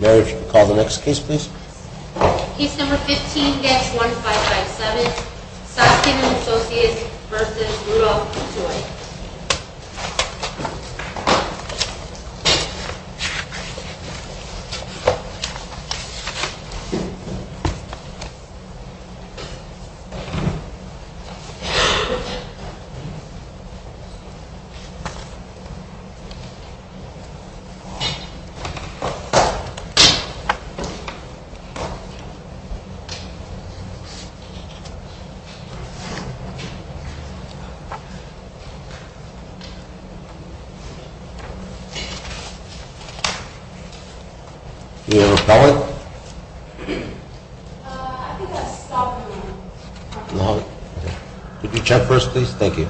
Mary, if you could call the next case, please. Case number 15, GANS 1557, Soskin & Associates v. Brutal Toys. Do you have a pallet? I think I stopped it. Could you check first, please? Thank you.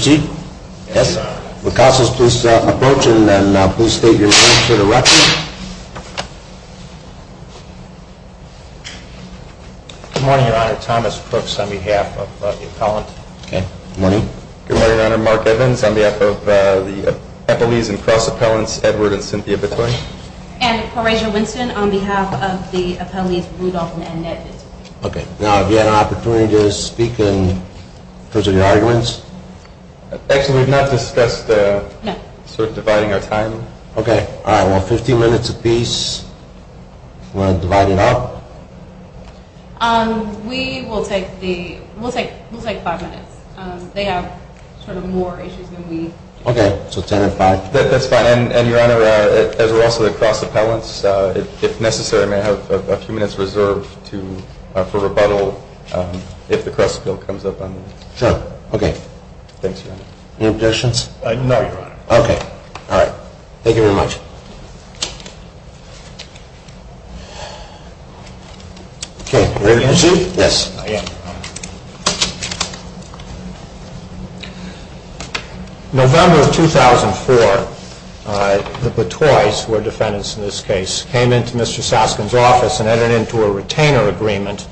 Good morning, Your Honor. Thomas Crooks on behalf of the appellant. Good morning, Your Honor. Mark Evans on behalf of the appellees and cross-appellants, Edward and Cynthia Bicoy. And Corazion Winston on behalf of the appellees, Rudolph and Annette. Okay. Now, have you had an opportunity to speak in terms of your arguments? Actually, we've not discussed sort of dividing our time. Okay. All right. Well, 15 minutes apiece. Do you want to divide it up? We will take five minutes. They have sort of more issues than we do. Okay. So ten and five? That's fine. And, Your Honor, as we're also cross-appellants, if necessary, may I have a few minutes reserved for rebuttal if the cross-appeal comes up on this? Sure. Okay. Thanks, Your Honor. Any objections? No, Your Honor. Okay. All right. Thank you very much. Okay. Ready to proceed? Yes. November of 2004, the Bicoys, who are defendants in this case, came into Mr. Soskin's office and entered into a retainer agreement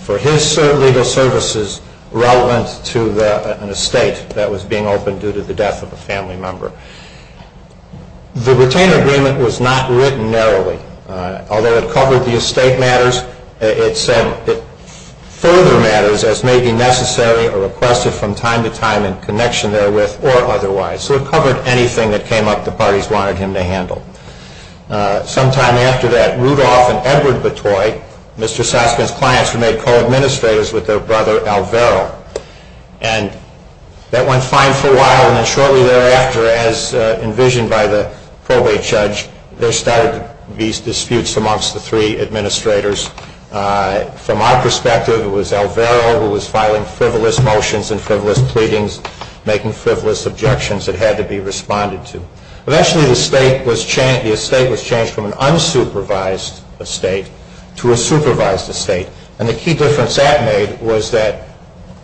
for his legal services relevant to an estate that was being opened due to the death of a family member. The retainer agreement was not written narrowly. Although it covered the estate matters, it said it further matters as may be necessary or requested from time to time in connection therewith or otherwise. So it covered anything that came up the parties wanted him to handle. Sometime after that, Rudolph and Edward Bicoy, Mr. Soskin's clients, were made co-administrators with their brother, Alvero. And that went fine for a while, and then shortly thereafter, as envisioned by the probate judge, there started these disputes amongst the three administrators. From our perspective, it was Alvero who was filing frivolous motions and frivolous pleadings, making frivolous objections that had to be responded to. Eventually, the estate was changed from an unsupervised estate to a supervised estate. And the key difference that made was that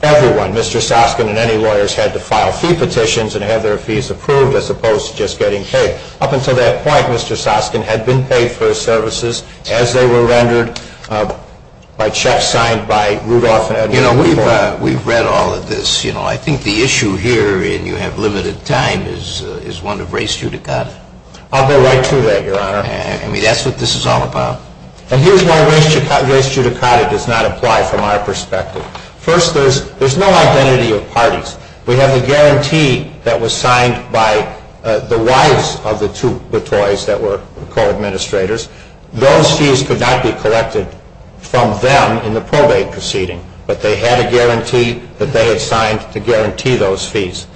everyone, Mr. Soskin and any lawyers, had to file fee petitions and have their fees approved as opposed to just getting paid. Up until that point, Mr. Soskin had been paid for his services as they were rendered by checks signed by Rudolph and Edward Bicoy. You know, we've read all of this. You know, I think the issue here, and you have limited time, is one of race judicata. I'll go right to that, Your Honor. I mean, that's what this is all about. And here's why race judicata does not apply from our perspective. First, there's no identity of parties. We have a guarantee that was signed by the wives of the two Bicoys that were co-administrators. Those fees could not be collected from them in the probate proceeding, but they had a guarantee that they had signed to guarantee those fees.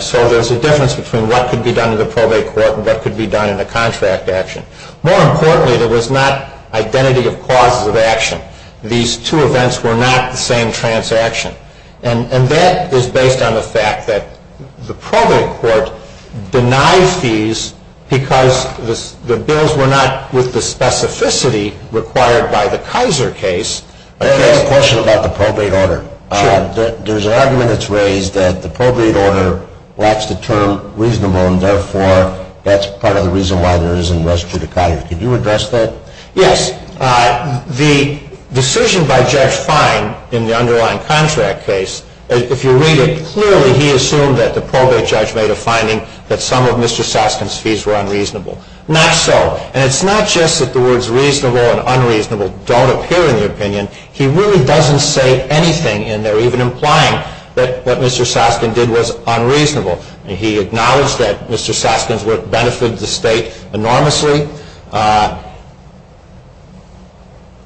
So there's a difference between what could be done in the probate court and what could be done in a contract action. More importantly, there was not identity of causes of action. These two events were not the same transaction. And that is based on the fact that the probate court denies fees because the bills were not with the specificity required by the Kaiser case. I have a question about the probate order. Sure. There's an argument that's raised that the probate order lacks the term reasonable, and therefore that's part of the reason why there isn't race judicata. Could you address that? Yes. The decision by Judge Fine in the underlying contract case, if you read it clearly, he assumed that the probate judge made a finding that some of Mr. Soskin's fees were unreasonable. Not so. And it's not just that the words reasonable and unreasonable don't appear in the opinion. He really doesn't say anything in there, even implying that what Mr. Soskin did was unreasonable. He acknowledged that Mr. Soskin's work benefited the state enormously.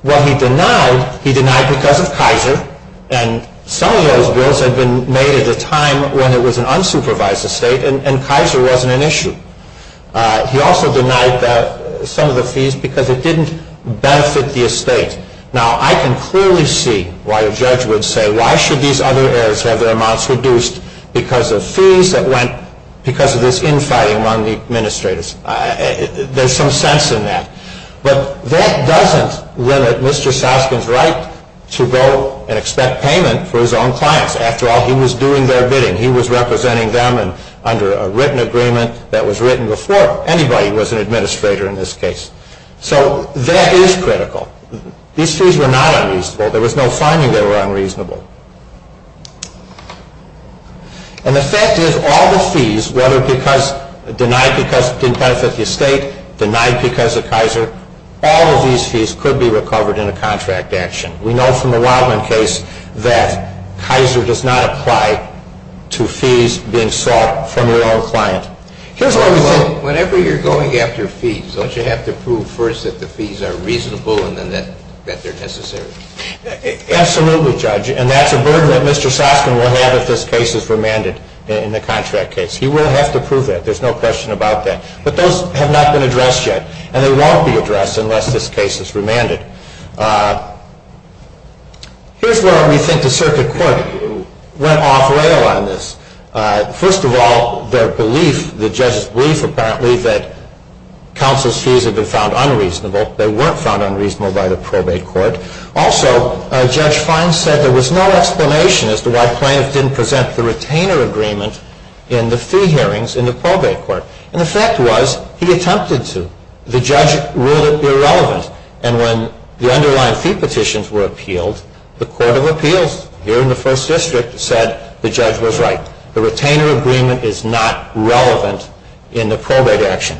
What he denied, he denied because of Kaiser. And some of those bills had been made at a time when it was an unsupervised estate and Kaiser wasn't an issue. He also denied some of the fees because it didn't benefit the estate. Now, I can clearly see why a judge would say, why should these other heirs have their amounts reduced because of fees that went because of this infighting among the administrators? There's some sense in that. But that doesn't limit Mr. Soskin's right to go and expect payment for his own clients. After all, he was doing their bidding. He was representing them under a written agreement that was written before anybody was an administrator in this case. So that is critical. These fees were not unreasonable. There was no finding they were unreasonable. And the fact is, all the fees, whether denied because it didn't benefit the estate, denied because of Kaiser, all of these fees could be recovered in a contract action. We know from the Wildman case that Kaiser does not apply to fees being sought from your own client. Whenever you're going after fees, don't you have to prove first that the fees are reasonable and then that they're necessary? Absolutely, Judge. And that's a burden that Mr. Soskin will have if this case is remanded in the contract case. He will have to prove that. There's no question about that. But those have not been addressed yet. And they won't be addressed unless this case is remanded. Here's why we think the circuit court went off-rail on this. First of all, their belief, the judge's belief apparently, that counsel's fees have been found unreasonable. They weren't found unreasonable by the probate court. Also, Judge Fines said there was no explanation as to why plaintiffs didn't present the retainer agreement in the fee hearings in the probate court. And the fact was, he attempted to. The judge ruled it irrelevant. And when the underlying fee petitions were appealed, the court of appeals here in the First District said the judge was right. The retainer agreement is not relevant in the probate action.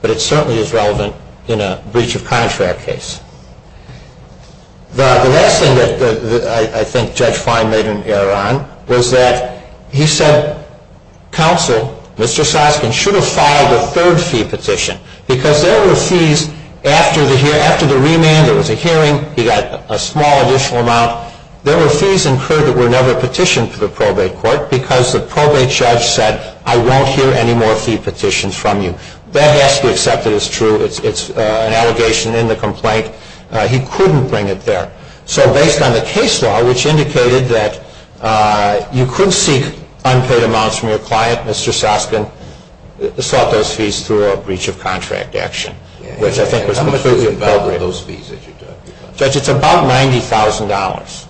But it certainly is relevant in a breach of contract case. The last thing that I think Judge Fine made an error on was that he said, counsel, Mr. Soskin, should have filed a third fee petition. Because there were fees after the remand. There was a hearing. He got a small additional amount. There were fees incurred that were never petitioned to the probate court because the probate judge said, I won't hear any more fee petitions from you. That has to be accepted as true. It's an allegation in the complaint. He couldn't bring it there. So based on the case law, which indicated that you couldn't seek unpaid amounts from your client, Mr. Soskin sought those fees through a breach of contract action, which I think was completely appropriate. How much was involved with those fees that you took? Judge, it's about $90,000.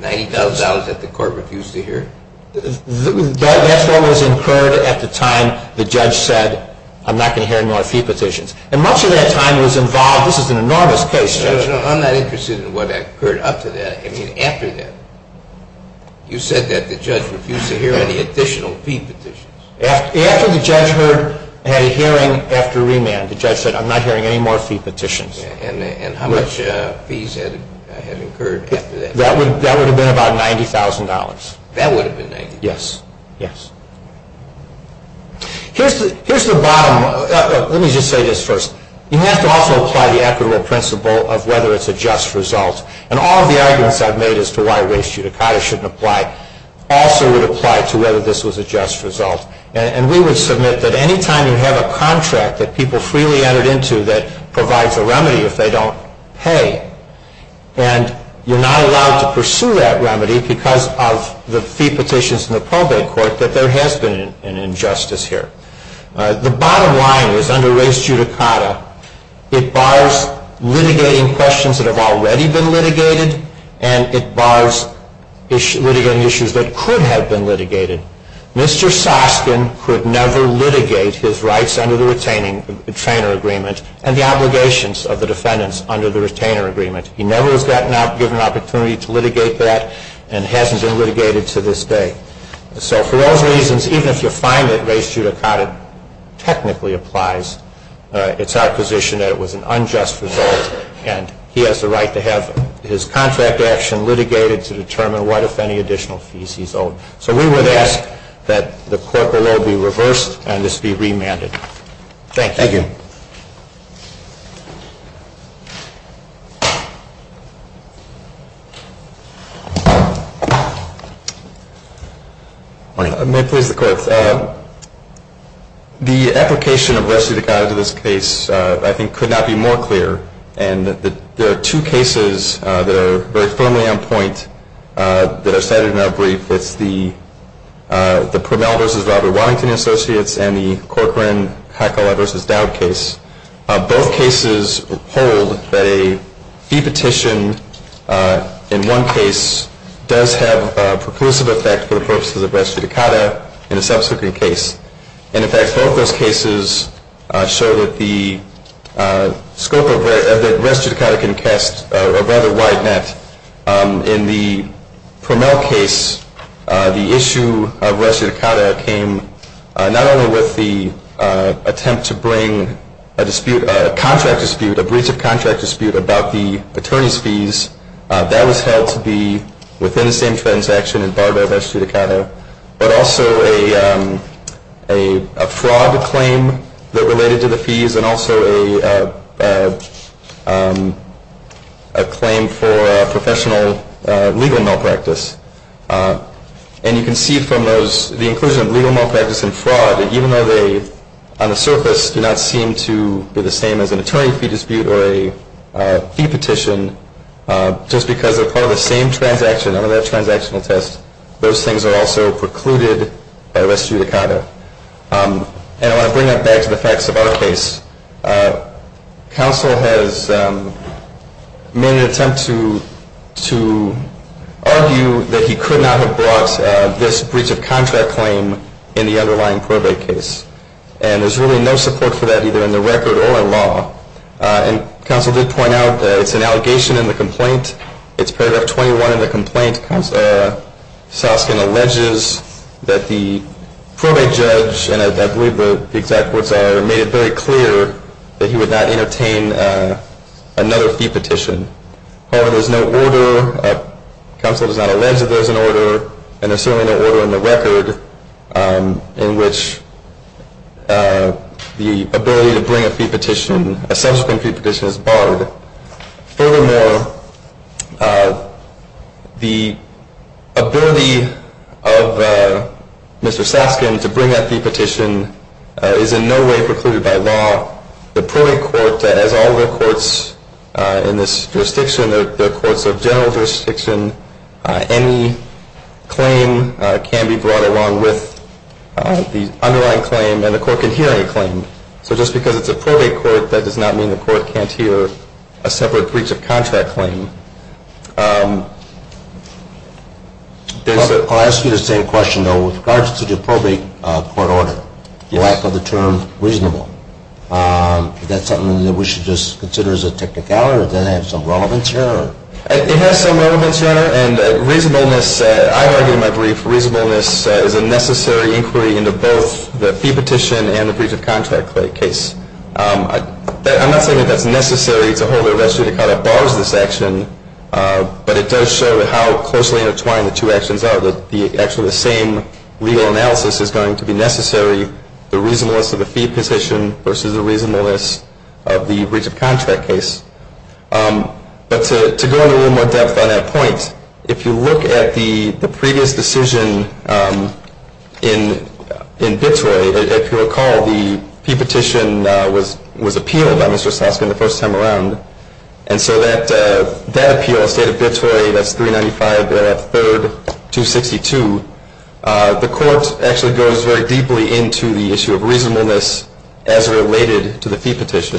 $90,000 that the court refused to hear? That's what was incurred at the time the judge said, I'm not going to hear any more fee petitions. And much of that time was involved. This is an enormous case, Judge. Judge, I'm not interested in what occurred after that. I mean after that. You said that the judge refused to hear any additional fee petitions. After the judge had a hearing after remand, the judge said, I'm not hearing any more fee petitions. And how much fees had incurred after that? That would have been about $90,000. That would have been $90,000? Yes. Yes. Here's the bottom. Let me just say this first. You have to also apply the equitable principle of whether it's a just result. And all of the arguments I've made as to why race judicata shouldn't apply also would apply to whether this was a just result. And we would submit that any time you have a contract that people freely entered into that provides a remedy if they don't pay, and you're not allowed to pursue that remedy because of the fee petitions in the probate court, that there has been an injustice here. The bottom line is under race judicata, it bars litigating questions that have already been litigated, and it bars litigating issues that could have been litigated. Mr. Soskin could never litigate his rights under the retainer agreement and the obligations of the defendants under the retainer agreement. He never was given an opportunity to litigate that and hasn't been litigated to this day. So for those reasons, even if you find that race judicata technically applies, it's our position that it was an unjust result, and he has the right to have his contract action litigated to determine what, if any, additional fees he's owed. So we would ask that the court below be reversed and this be remanded. Thank you. May it please the court. The application of race judicata to this case, I think, could not be more clear, and there are two cases that are very firmly on point that are cited in our brief. It's the Primmell v. Robert Waddington Associates and the Corcoran-Hekala v. Dowdell case. Both cases hold that a fee petition in one case does have a preclusive effect for the purposes of race judicata in a subsequent case. And, in fact, both those cases show that the scope of race judicata can cast a rather wide net. In the Primmell case, the issue of race judicata came not only with the attempt to bring a contract dispute, a breach of contract dispute, about the attorney's fees. That was held to be within the same transaction and barred by race judicata, but also a fraud claim that related to the fees and also a claim for professional legal malpractice. And you can see from the inclusion of legal malpractice and fraud that even though they, on the surface, do not seem to be the same as an attorney fee dispute or a fee petition, just because they're part of the same transaction under that transactional test, those things are also precluded by race judicata. And I want to bring that back to the facts of our case. Counsel has made an attempt to argue that he could not have brought this breach of contract claim in the underlying probate case. And there's really no support for that either in the record or in law. And counsel did point out that it's an allegation in the complaint. It's paragraph 21 in the complaint. Soskin alleges that the probate judge, and I believe the exact words are, made it very clear that he would not entertain another fee petition. However, there's no order. Counsel does not allege that there's an order. And there's certainly no order in the record in which the ability to bring a fee petition, a subsequent fee petition, is barred. Furthermore, the ability of Mr. Soskin to bring that fee petition is in no way precluded by law. The probate court, as all the courts in this jurisdiction, the courts of general jurisdiction, any claim can be brought along with the underlying claim and the court can hear any claim. So just because it's a probate court, that does not mean the court can't hear a separate breach of contract claim. I'll ask you the same question, though. With regards to the probate court order, the lack of the term reasonable, is that something that we should just consider as a technicality? Does that have some relevance here? It has some relevance, Your Honor, and reasonableness, I argue in my brief, reasonableness is a necessary inquiry into both the fee petition and the breach of contract case. I'm not saying that that's necessary to hold a res judicata bars this action, but it does show how closely intertwined the two actions are, that actually the same legal analysis is going to be necessary, the reasonableness of the fee petition versus the reasonableness of the breach of contract case. But to go into a little more depth on that point, if you look at the previous decision in Bitroy, if you recall, the fee petition was appealed by Mr. Soskin the first time around, and so that appeal in the state of Bitroy, that's 395-3-262, the court actually goes very deeply into the issue of reasonableness as related to the fee petition.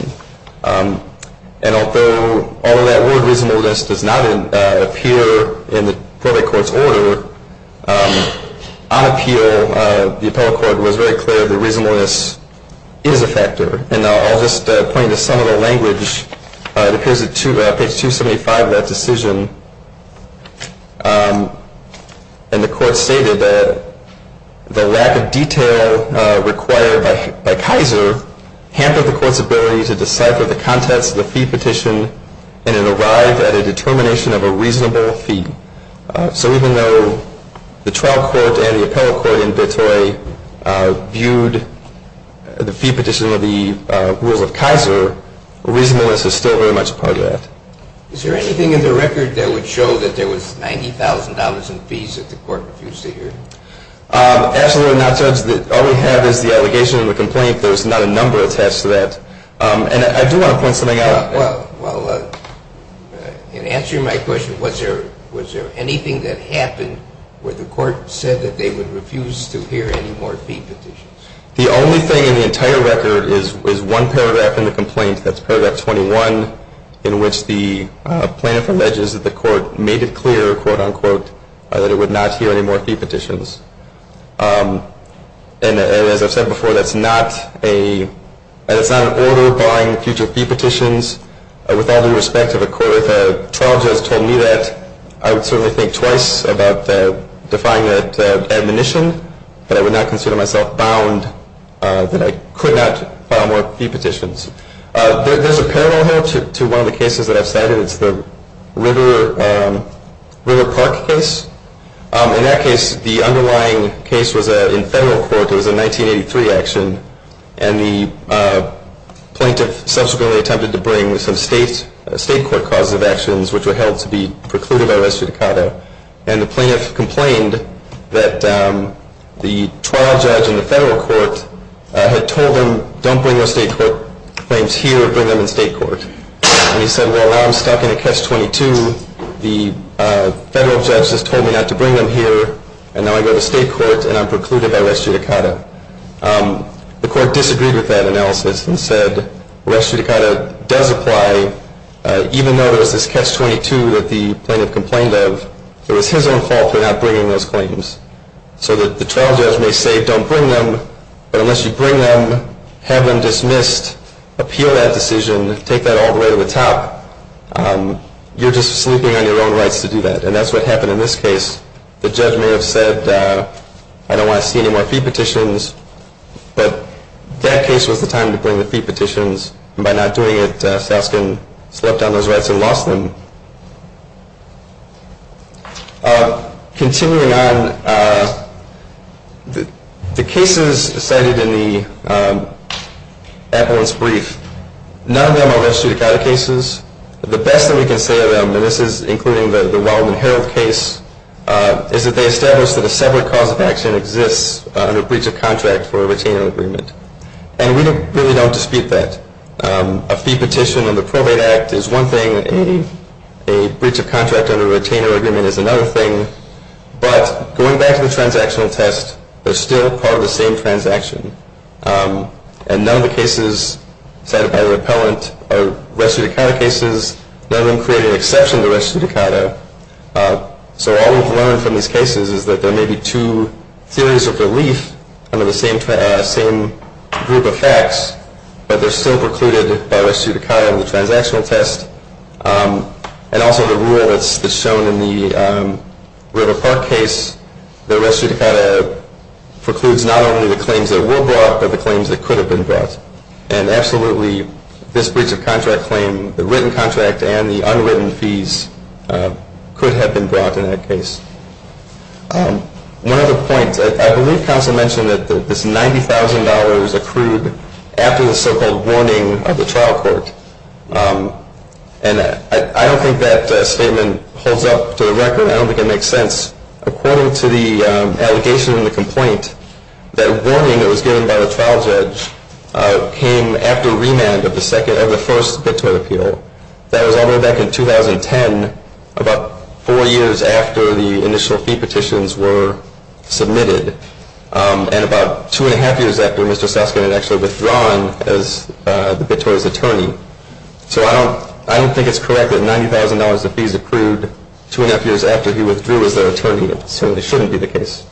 And although that word reasonableness does not appear in the probate court's order, on appeal, the appellate court was very clear that reasonableness is a factor. And I'll just point you to some of the language that appears on page 275 of that decision. And the court stated that the lack of detail required by Kaiser hampered the court's ability to decipher the contents of the fee petition and it arrived at a determination of a reasonable fee. So even though the trial court and the appellate court in Bitroy viewed the fee petition of the rules of Kaiser, reasonableness is still very much a part of that. Is there anything in the record that would show that there was $90,000 in fees that the court refused to hear? Absolutely not, Judge. All we have is the allegation and the complaint. There's not a number attached to that. And I do want to point something out. Well, in answering my question, was there anything that happened where the court said that they would refuse to hear any more fee petitions? The only thing in the entire record is one paragraph in the complaint, that's paragraph 21, in which the plaintiff alleges that the court made it clear, quote, unquote, that it would not hear any more fee petitions. And as I've said before, that's not an order barring future fee petitions. With all due respect to the court, if a trial judge told me that, I would certainly think twice about defying that admonition, but I would not consider myself bound that I could not bar more fee petitions. There's a parallel here to one of the cases that I've cited. It's the River Park case. In that case, the underlying case was in federal court. It was a 1983 action. And the plaintiff subsequently attempted to bring some state court causes of actions, which were held to be precluded by res judicata. And the plaintiff complained that the trial judge in the federal court had told him, don't bring your state court claims here, bring them in state court. And he said, well, now I'm stuck in a catch-22. The federal judge has told me not to bring them here, and now I go to state court and I'm precluded by res judicata. The court disagreed with that analysis and said, res judicata does apply, even though there's this catch-22 that the plaintiff complained of. It was his own fault for not bringing those claims. So the trial judge may say, don't bring them, but unless you bring them, have them dismissed, appeal that decision, take that all the way to the top, you're just sleeping on your own rights to do that. And that's what happened in this case. The judge may have said, I don't want to see any more fee petitions, but that case was the time to bring the fee petitions. And by not doing it, Saskin slept on those rights and lost them. Continuing on, the cases cited in the appellant's brief, none of them are res judicata cases. The best that we can say of them, and this is including the Wildman Herald case, is that they established that a separate cause of action exists under a breach of contract for a retainer agreement. And we really don't dispute that. A fee petition in the Probate Act is one thing. A breach of contract under a retainer agreement is another thing. But going back to the transactional test, they're still part of the same transaction. And none of the cases cited by the appellant are res judicata cases, none of them create an exception to res judicata. So all we've learned from these cases is that there may be two theories of relief under the same group of facts, but they're still precluded by res judicata in the transactional test. And also the rule that's shown in the River Park case, the res judicata precludes not only the claims that were brought, but the claims that could have been brought. And absolutely, this breach of contract claim, the written contract and the unwritten fees could have been brought in that case. One other point, I believe counsel mentioned that this $90,000 accrued after the so-called warning of the trial court. And I don't think that statement holds up to the record. I don't think it makes sense. According to the allegation in the complaint, that warning that was given by the trial judge came after remand of the first BitTorrent appeal. That was all the way back in 2010, about four years after the initial fee petitions were submitted, and about two and a half years after Mr. Saskin had actually withdrawn as the BitTorrent's attorney. So I don't think it's correct that $90,000 of fees accrued two and a half years after he withdrew as the attorney. It certainly shouldn't be the case.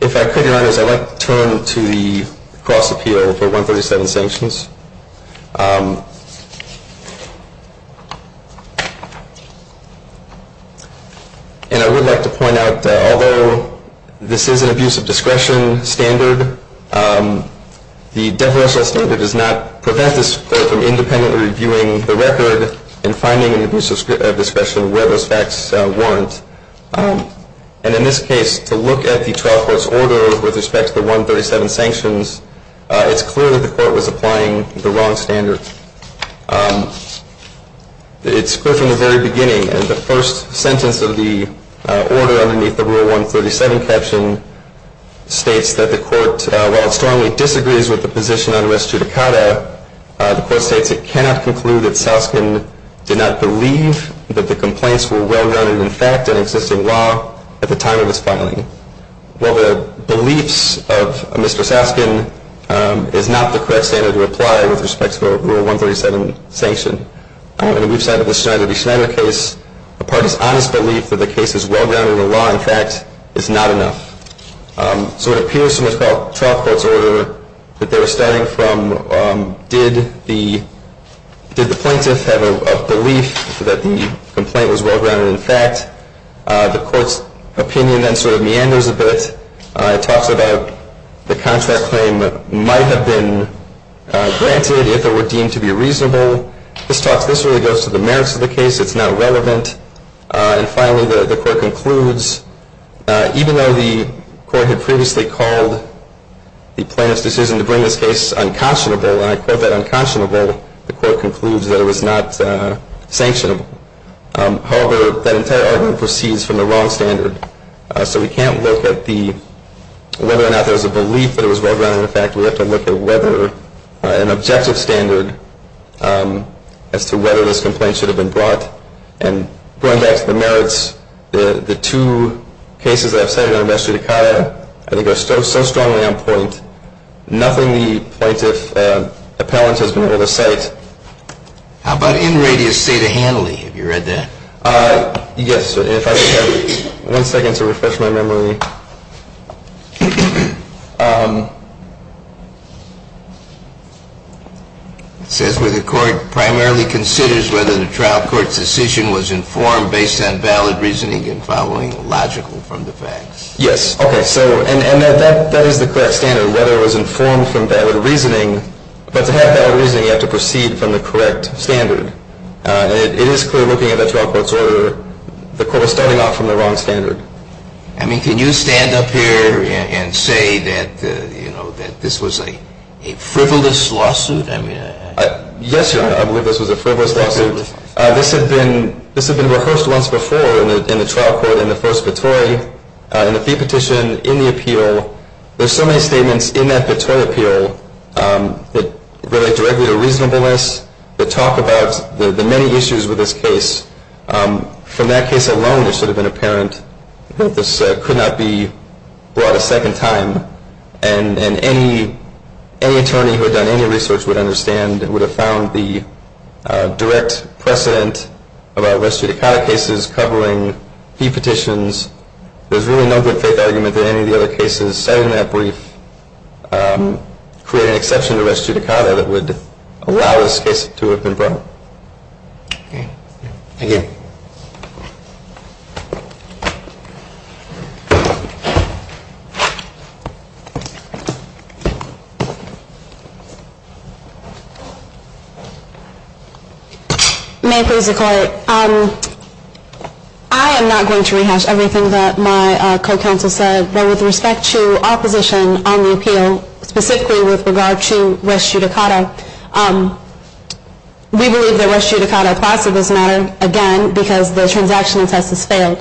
If I could, Your Honors, I'd like to turn to the cross appeal for 137 sanctions. And I would like to point out that although this is an abuse of discretion standard, the deferential standard does not prevent this court from independently reviewing the record and finding an abuse of discretion where those facts warrant. And in this case, to look at the trial court's order with respect to the 137 sanctions, it's clear that the court was applying the wrong standard. It's clear from the very beginning, and the first sentence of the order underneath the Rule 137 caption states that the court, while it strongly disagrees with the position on res judicata, the court states it cannot conclude that Saskin did not believe that the complaints were well-rounded in fact in existing law at the time of his filing. While the beliefs of Mr. Saskin is not the correct standard to apply with respect to a Rule 137 sanction, on the weak side of the Schneider v. Schneider case, the parties' honest belief that the case is well-rounded in the law in fact is not enough. So it appears from the trial court's order that they were starting from did the plaintiff have a belief that the complaint was well-rounded in fact. The court's opinion then sort of meanders a bit. It talks about the contract claim might have been granted if it were deemed to be reasonable. This really goes to the merits of the case. It's not relevant. And finally, the court concludes even though the court had previously called the plaintiff's decision to bring this case unconscionable, and I quote that unconscionable, the court concludes that it was not sanctionable. However, that entire argument proceeds from the wrong standard. So we can't look at whether or not there was a belief that it was well-rounded in fact. We have to look at whether an objective standard as to whether this complaint should have been brought. And going back to the merits, the two cases that I've cited in regards to Decada, I think are so strongly on point. Nothing the plaintiff's appellant has been able to cite. How about in radius, say, to Hanley? Have you read that? Yes. If I could have one second to refresh my memory. It says where the court primarily considers whether the trial court's decision was informed based on valid reasoning and following logical from the facts. Yes. Okay. So and that is the correct standard, whether it was informed from valid reasoning. But to have valid reasoning, you have to proceed from the correct standard. And it is clear looking at the trial court's order, the court was starting off from the wrong standard. I mean, can you stand up here and say that this was a frivolous lawsuit? Yes, Your Honor. I believe this was a frivolous lawsuit. This had been rehearsed once before in the trial court in the first vittori, in the fee petition, in the appeal. There's so many statements in that vittori appeal that relate directly to reasonableness, that talk about the many issues with this case. From that case alone, it should have been apparent that this could not be brought a second time, and any attorney who had done any research would understand and would have found the direct precedent about res judicata cases covering fee petitions. There's really no good faith argument that any of the other cases, aside from that brief, create an exception to res judicata that would allow this case to have been brought. Okay. Thank you. May it please the Court. I am not going to rehash everything that my co-counsel said. But with respect to opposition on the appeal, specifically with regard to res judicata, we believe that res judicata applies to this matter, again, because the transactional test has failed.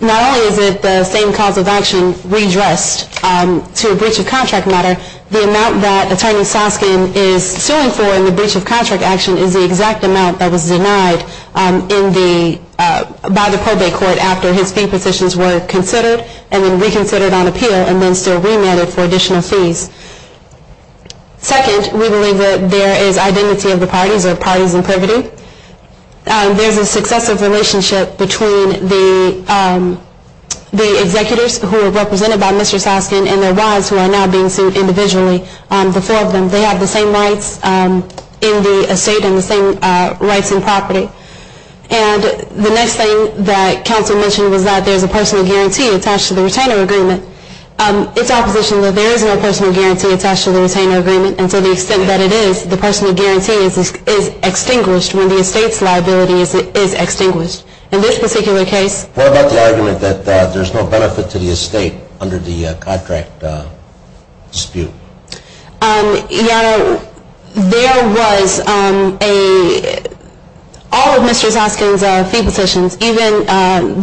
Not only is it the same cause of action redressed to a breach of contract matter, the amount that Attorney Soskin is suing for in the breach of contract action is the exact amount that was denied by the probate court after his fee petitions were considered and then reconsidered on appeal and then still remanded for additional fees. Second, we believe that there is identity of the parties or parties in privity. There's a successive relationship between the executors who were represented by Mr. Soskin and their wives who are now being sued individually, the four of them. They have the same rights in the estate and the same rights in property. And the next thing that counsel mentioned was that there's a personal guarantee attached to the retainer agreement. It's opposition that there is no personal guarantee attached to the retainer agreement and to the extent that it is, the personal guarantee is extinguished when the estate's liability is extinguished. In this particular case. What about the argument that there's no benefit to the estate under the contract dispute? You know, there was a... All of Mr. Soskin's fee petitions, even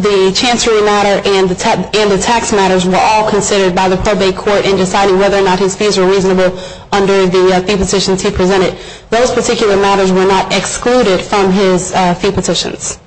the chancery matter and the tax matters were all considered by the probate court in deciding whether or not his fees were reasonable under the fee petitions he presented. Those particular matters were not excluded from his fee petitions.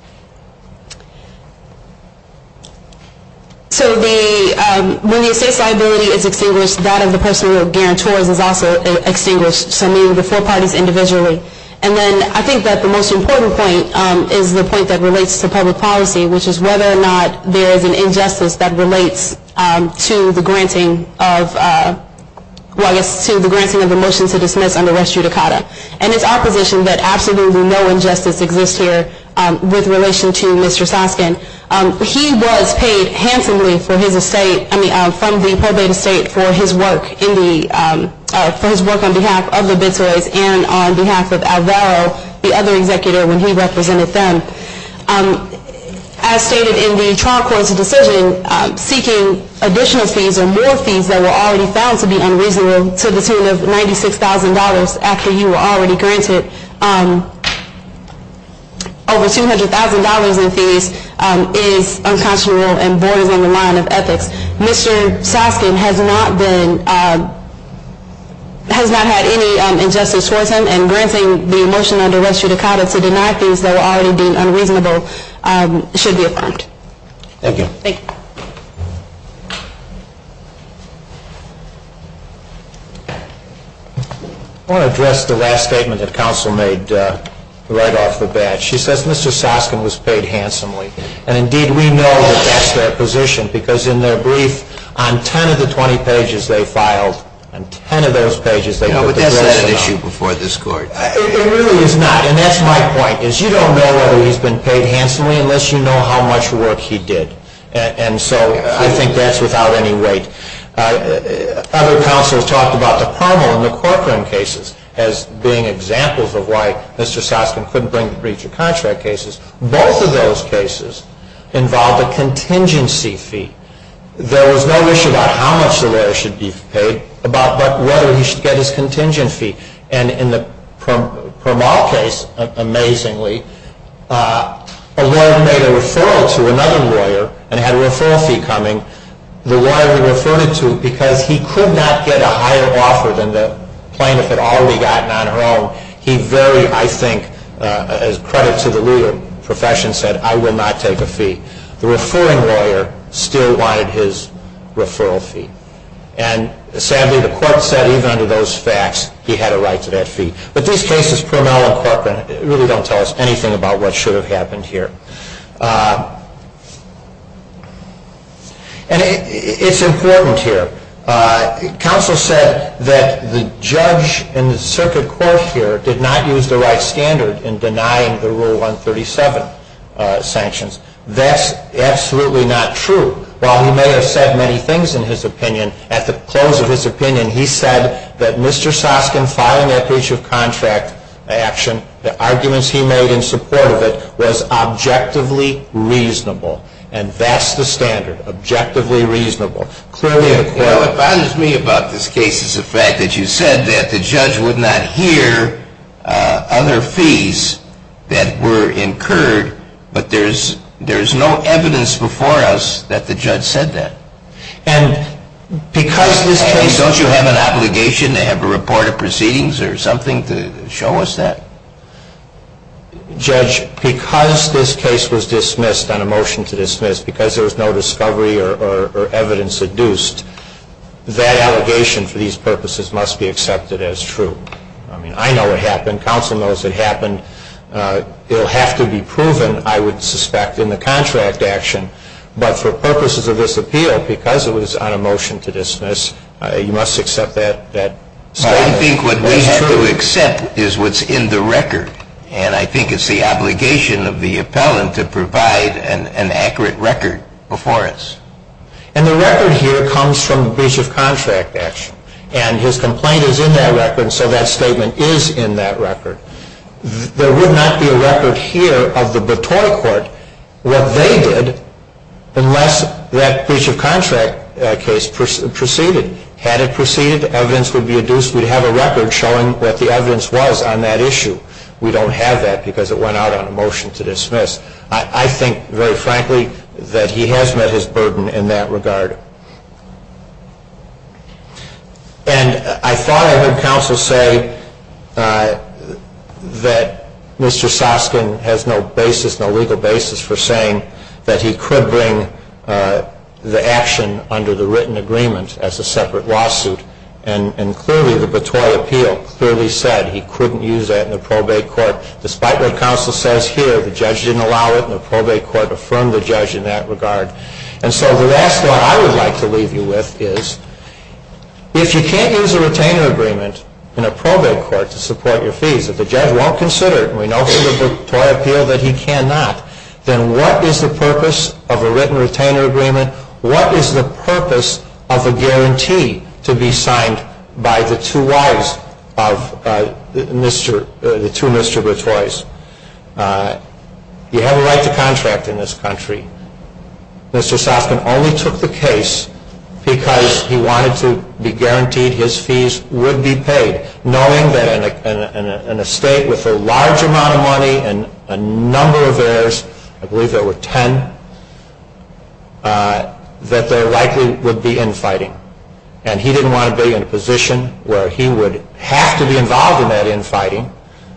So when the estate's liability is extinguished, that of the personal guarantors is also extinguished. So meaning the four parties individually. And then I think that the most important point is the point that relates to public policy, which is whether or not there is an injustice that relates to the granting of... Well, I guess to the granting of the motion to dismiss under res judicata. And it's opposition that absolutely no injustice exists here. With relation to Mr. Soskin. He was paid handsomely for his estate. I mean, from the probate estate for his work in the... For his work on behalf of the Bitsoys and on behalf of Alvaro, the other executor when he represented them. As stated in the trial court's decision, seeking additional fees or more fees that were already found to be unreasonable to the tune of $96,000 after you were already granted over $200,000 in fees is unconscionable and borders on the line of ethics. Mr. Soskin has not had any injustice towards him. And granting the motion under res judicata to deny fees that were already being unreasonable should be affirmed. Thank you. Thank you. I want to address the last statement that counsel made right off the bat. She says Mr. Soskin was paid handsomely. And indeed, we know that that's their position. Because in their brief, on 10 of the 20 pages they filed, on 10 of those pages... Yeah, but that's not an issue before this court. It really is not. And that's my point, is you don't know whether he's been paid handsomely unless you know how much work he did. And so I think that's without any weight. Other counselors talked about the Permol and the Corcoran cases as being examples of why Mr. Soskin couldn't bring the breach of contract cases. Both of those cases involved a contingency fee. There was no issue about how much the lawyer should be paid, but whether he should get his contingency fee. And in the Permol case, amazingly, a lawyer made a referral to another lawyer and had a referral fee coming. The lawyer he referred it to, because he could not get a higher offer than the plaintiff had already gotten on her own, he very, I think, as credit to the legal profession, said, I will not take a fee. The referring lawyer still wanted his referral fee. And sadly, the court said even under those facts, he had a right to that fee. But these cases, Permol and Corcoran, really don't tell us anything about what should have happened here. And it's important here. Counsel said that the judge in the circuit court here did not use the right standard in denying the Rule 137 sanctions. That's absolutely not true. While he may have said many things in his opinion, at the close of his opinion, he said that Mr. Soskin filing that breach of contract action, the arguments he made in support of it, was objectively reasonable. And that's the standard. Objectively reasonable. It bothers me about this case is the fact that you said that the judge would not hear other fees that were incurred, but there's no evidence before us that the judge said that. And because this case... Don't you have an obligation to have a report of proceedings or something to show us that? Judge, because this case was dismissed on a motion to dismiss, because there was no discovery or evidence induced, that allegation for these purposes must be accepted as true. I mean, I know it happened. Counsel knows it happened. It will have to be proven, I would suspect, in the contract action. But for purposes of this appeal, because it was on a motion to dismiss, you must accept that statement. Well, I think what we have to accept is what's in the record. And I think it's the obligation of the appellant to provide an accurate record before us. And the record here comes from the breach of contract action. And his complaint is in that record, so that statement is in that record. There would not be a record here of the Batoi Court, what they did, unless that breach of contract case proceeded. Had it proceeded, evidence would be induced. We'd have a record showing what the evidence was on that issue. We don't have that because it went out on a motion to dismiss. I think, very frankly, that he has met his burden in that regard. And I thought I heard counsel say that Mr. Soskin has no basis, no legal basis for saying that he could bring the action under the written agreement as a separate lawsuit. And clearly the Batoi appeal clearly said he couldn't use that in the probate court, despite what counsel says here. The judge didn't allow it, and the probate court affirmed the judge in that regard. And so the last thought I would like to leave you with is, if you can't use a retainer agreement in a probate court to support your fees, if the judge won't consider it, and we know from the Batoi appeal that he cannot, then what is the purpose of a written retainer agreement? What is the purpose of a guarantee to be signed by the two wives of the two Mr. Batois? You have a right to contract in this country. Mr. Soskin only took the case because he wanted to be guaranteed his fees would be paid, knowing that in a state with a large amount of money and a number of heirs, I believe there were ten, that there likely would be infighting. And he didn't want to be in a position where he would have to be involved in that infighting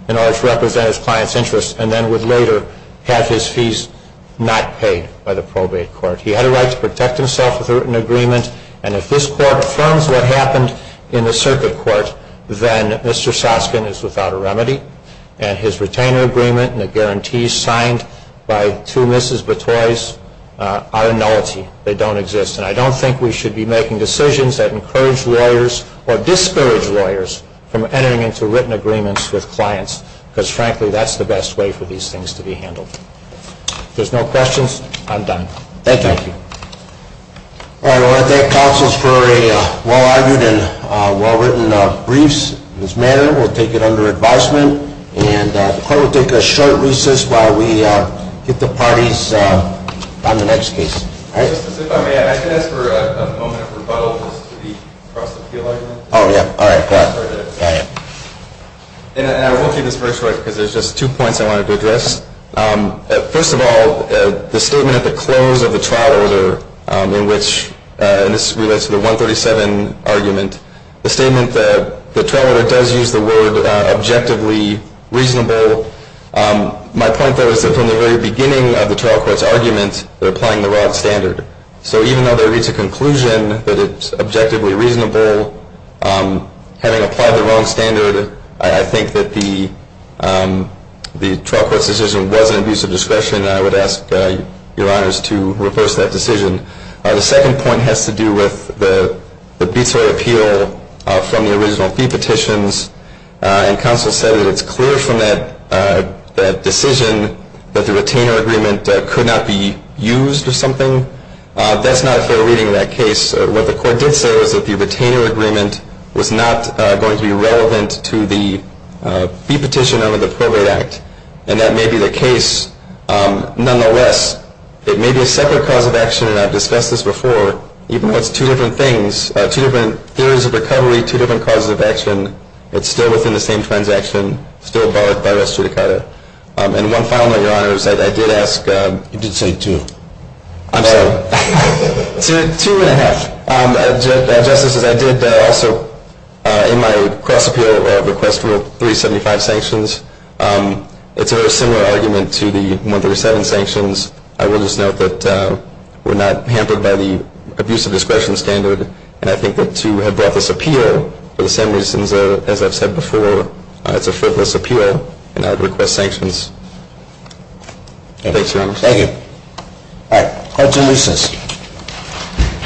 in order to represent his client's interests, and then would later have his fees not paid by the probate court. He had a right to protect himself with a written agreement, and if this court affirms what happened in the circuit court, then Mr. Soskin is without a remedy, and his retainer agreement and the guarantees signed by two Mrs. Batois are a nullity. They don't exist. And I don't think we should be making decisions that encourage lawyers or disparage lawyers from entering into written agreements with clients, because frankly that's the best way for these things to be handled. If there's no questions, I'm done. Thank you. I want to thank counsels for a well-argued and well-written brief. We'll take it under advisement, and the court will take a short recess while we get the parties on the next case. If I may, I'm going to ask for a moment of rebuttal to the cross-appeal argument. Oh, yeah. All right. And I will keep this brief short because there's just two points I wanted to address. First of all, the statement at the close of the trial order in which, and this relates to the 137 argument, the statement that the trial order does use the word objectively reasonable. My point, though, is that from the very beginning of the trial court's argument, they're applying the wrong standard. So even though there is a conclusion that it's objectively reasonable, having applied the wrong standard, I think that the trial court's decision was an abuse of discretion, and I would ask your honors to reverse that decision. The second point has to do with the BTOI appeal from the original fee petitions, and counsel said that it's clear from that decision that the retainer agreement could not be used or something. That's not a fair reading of that case. What the court did say was that the retainer agreement was not going to be relevant to the fee petition under the Probate Act, and that may be the case. Nonetheless, it may be a separate cause of action, and I've discussed this before, even though it's two different things, two different theories of recovery, two different causes of action, it's still within the same transaction, still barred by res judicata. And one final thing, your honors, I did ask. You did say two. I'm sorry. Two and a half. Just as I did also in my cross-appeal request for 375 sanctions, it's a very similar argument to the 137 sanctions. I will just note that we're not hampered by the abuse of discretion standard, and I think that to have brought this appeal, for the same reasons as I've said before, it's a frivolous appeal, and I would request sanctions. Thanks, your honors. Thank you. All right. Thank you.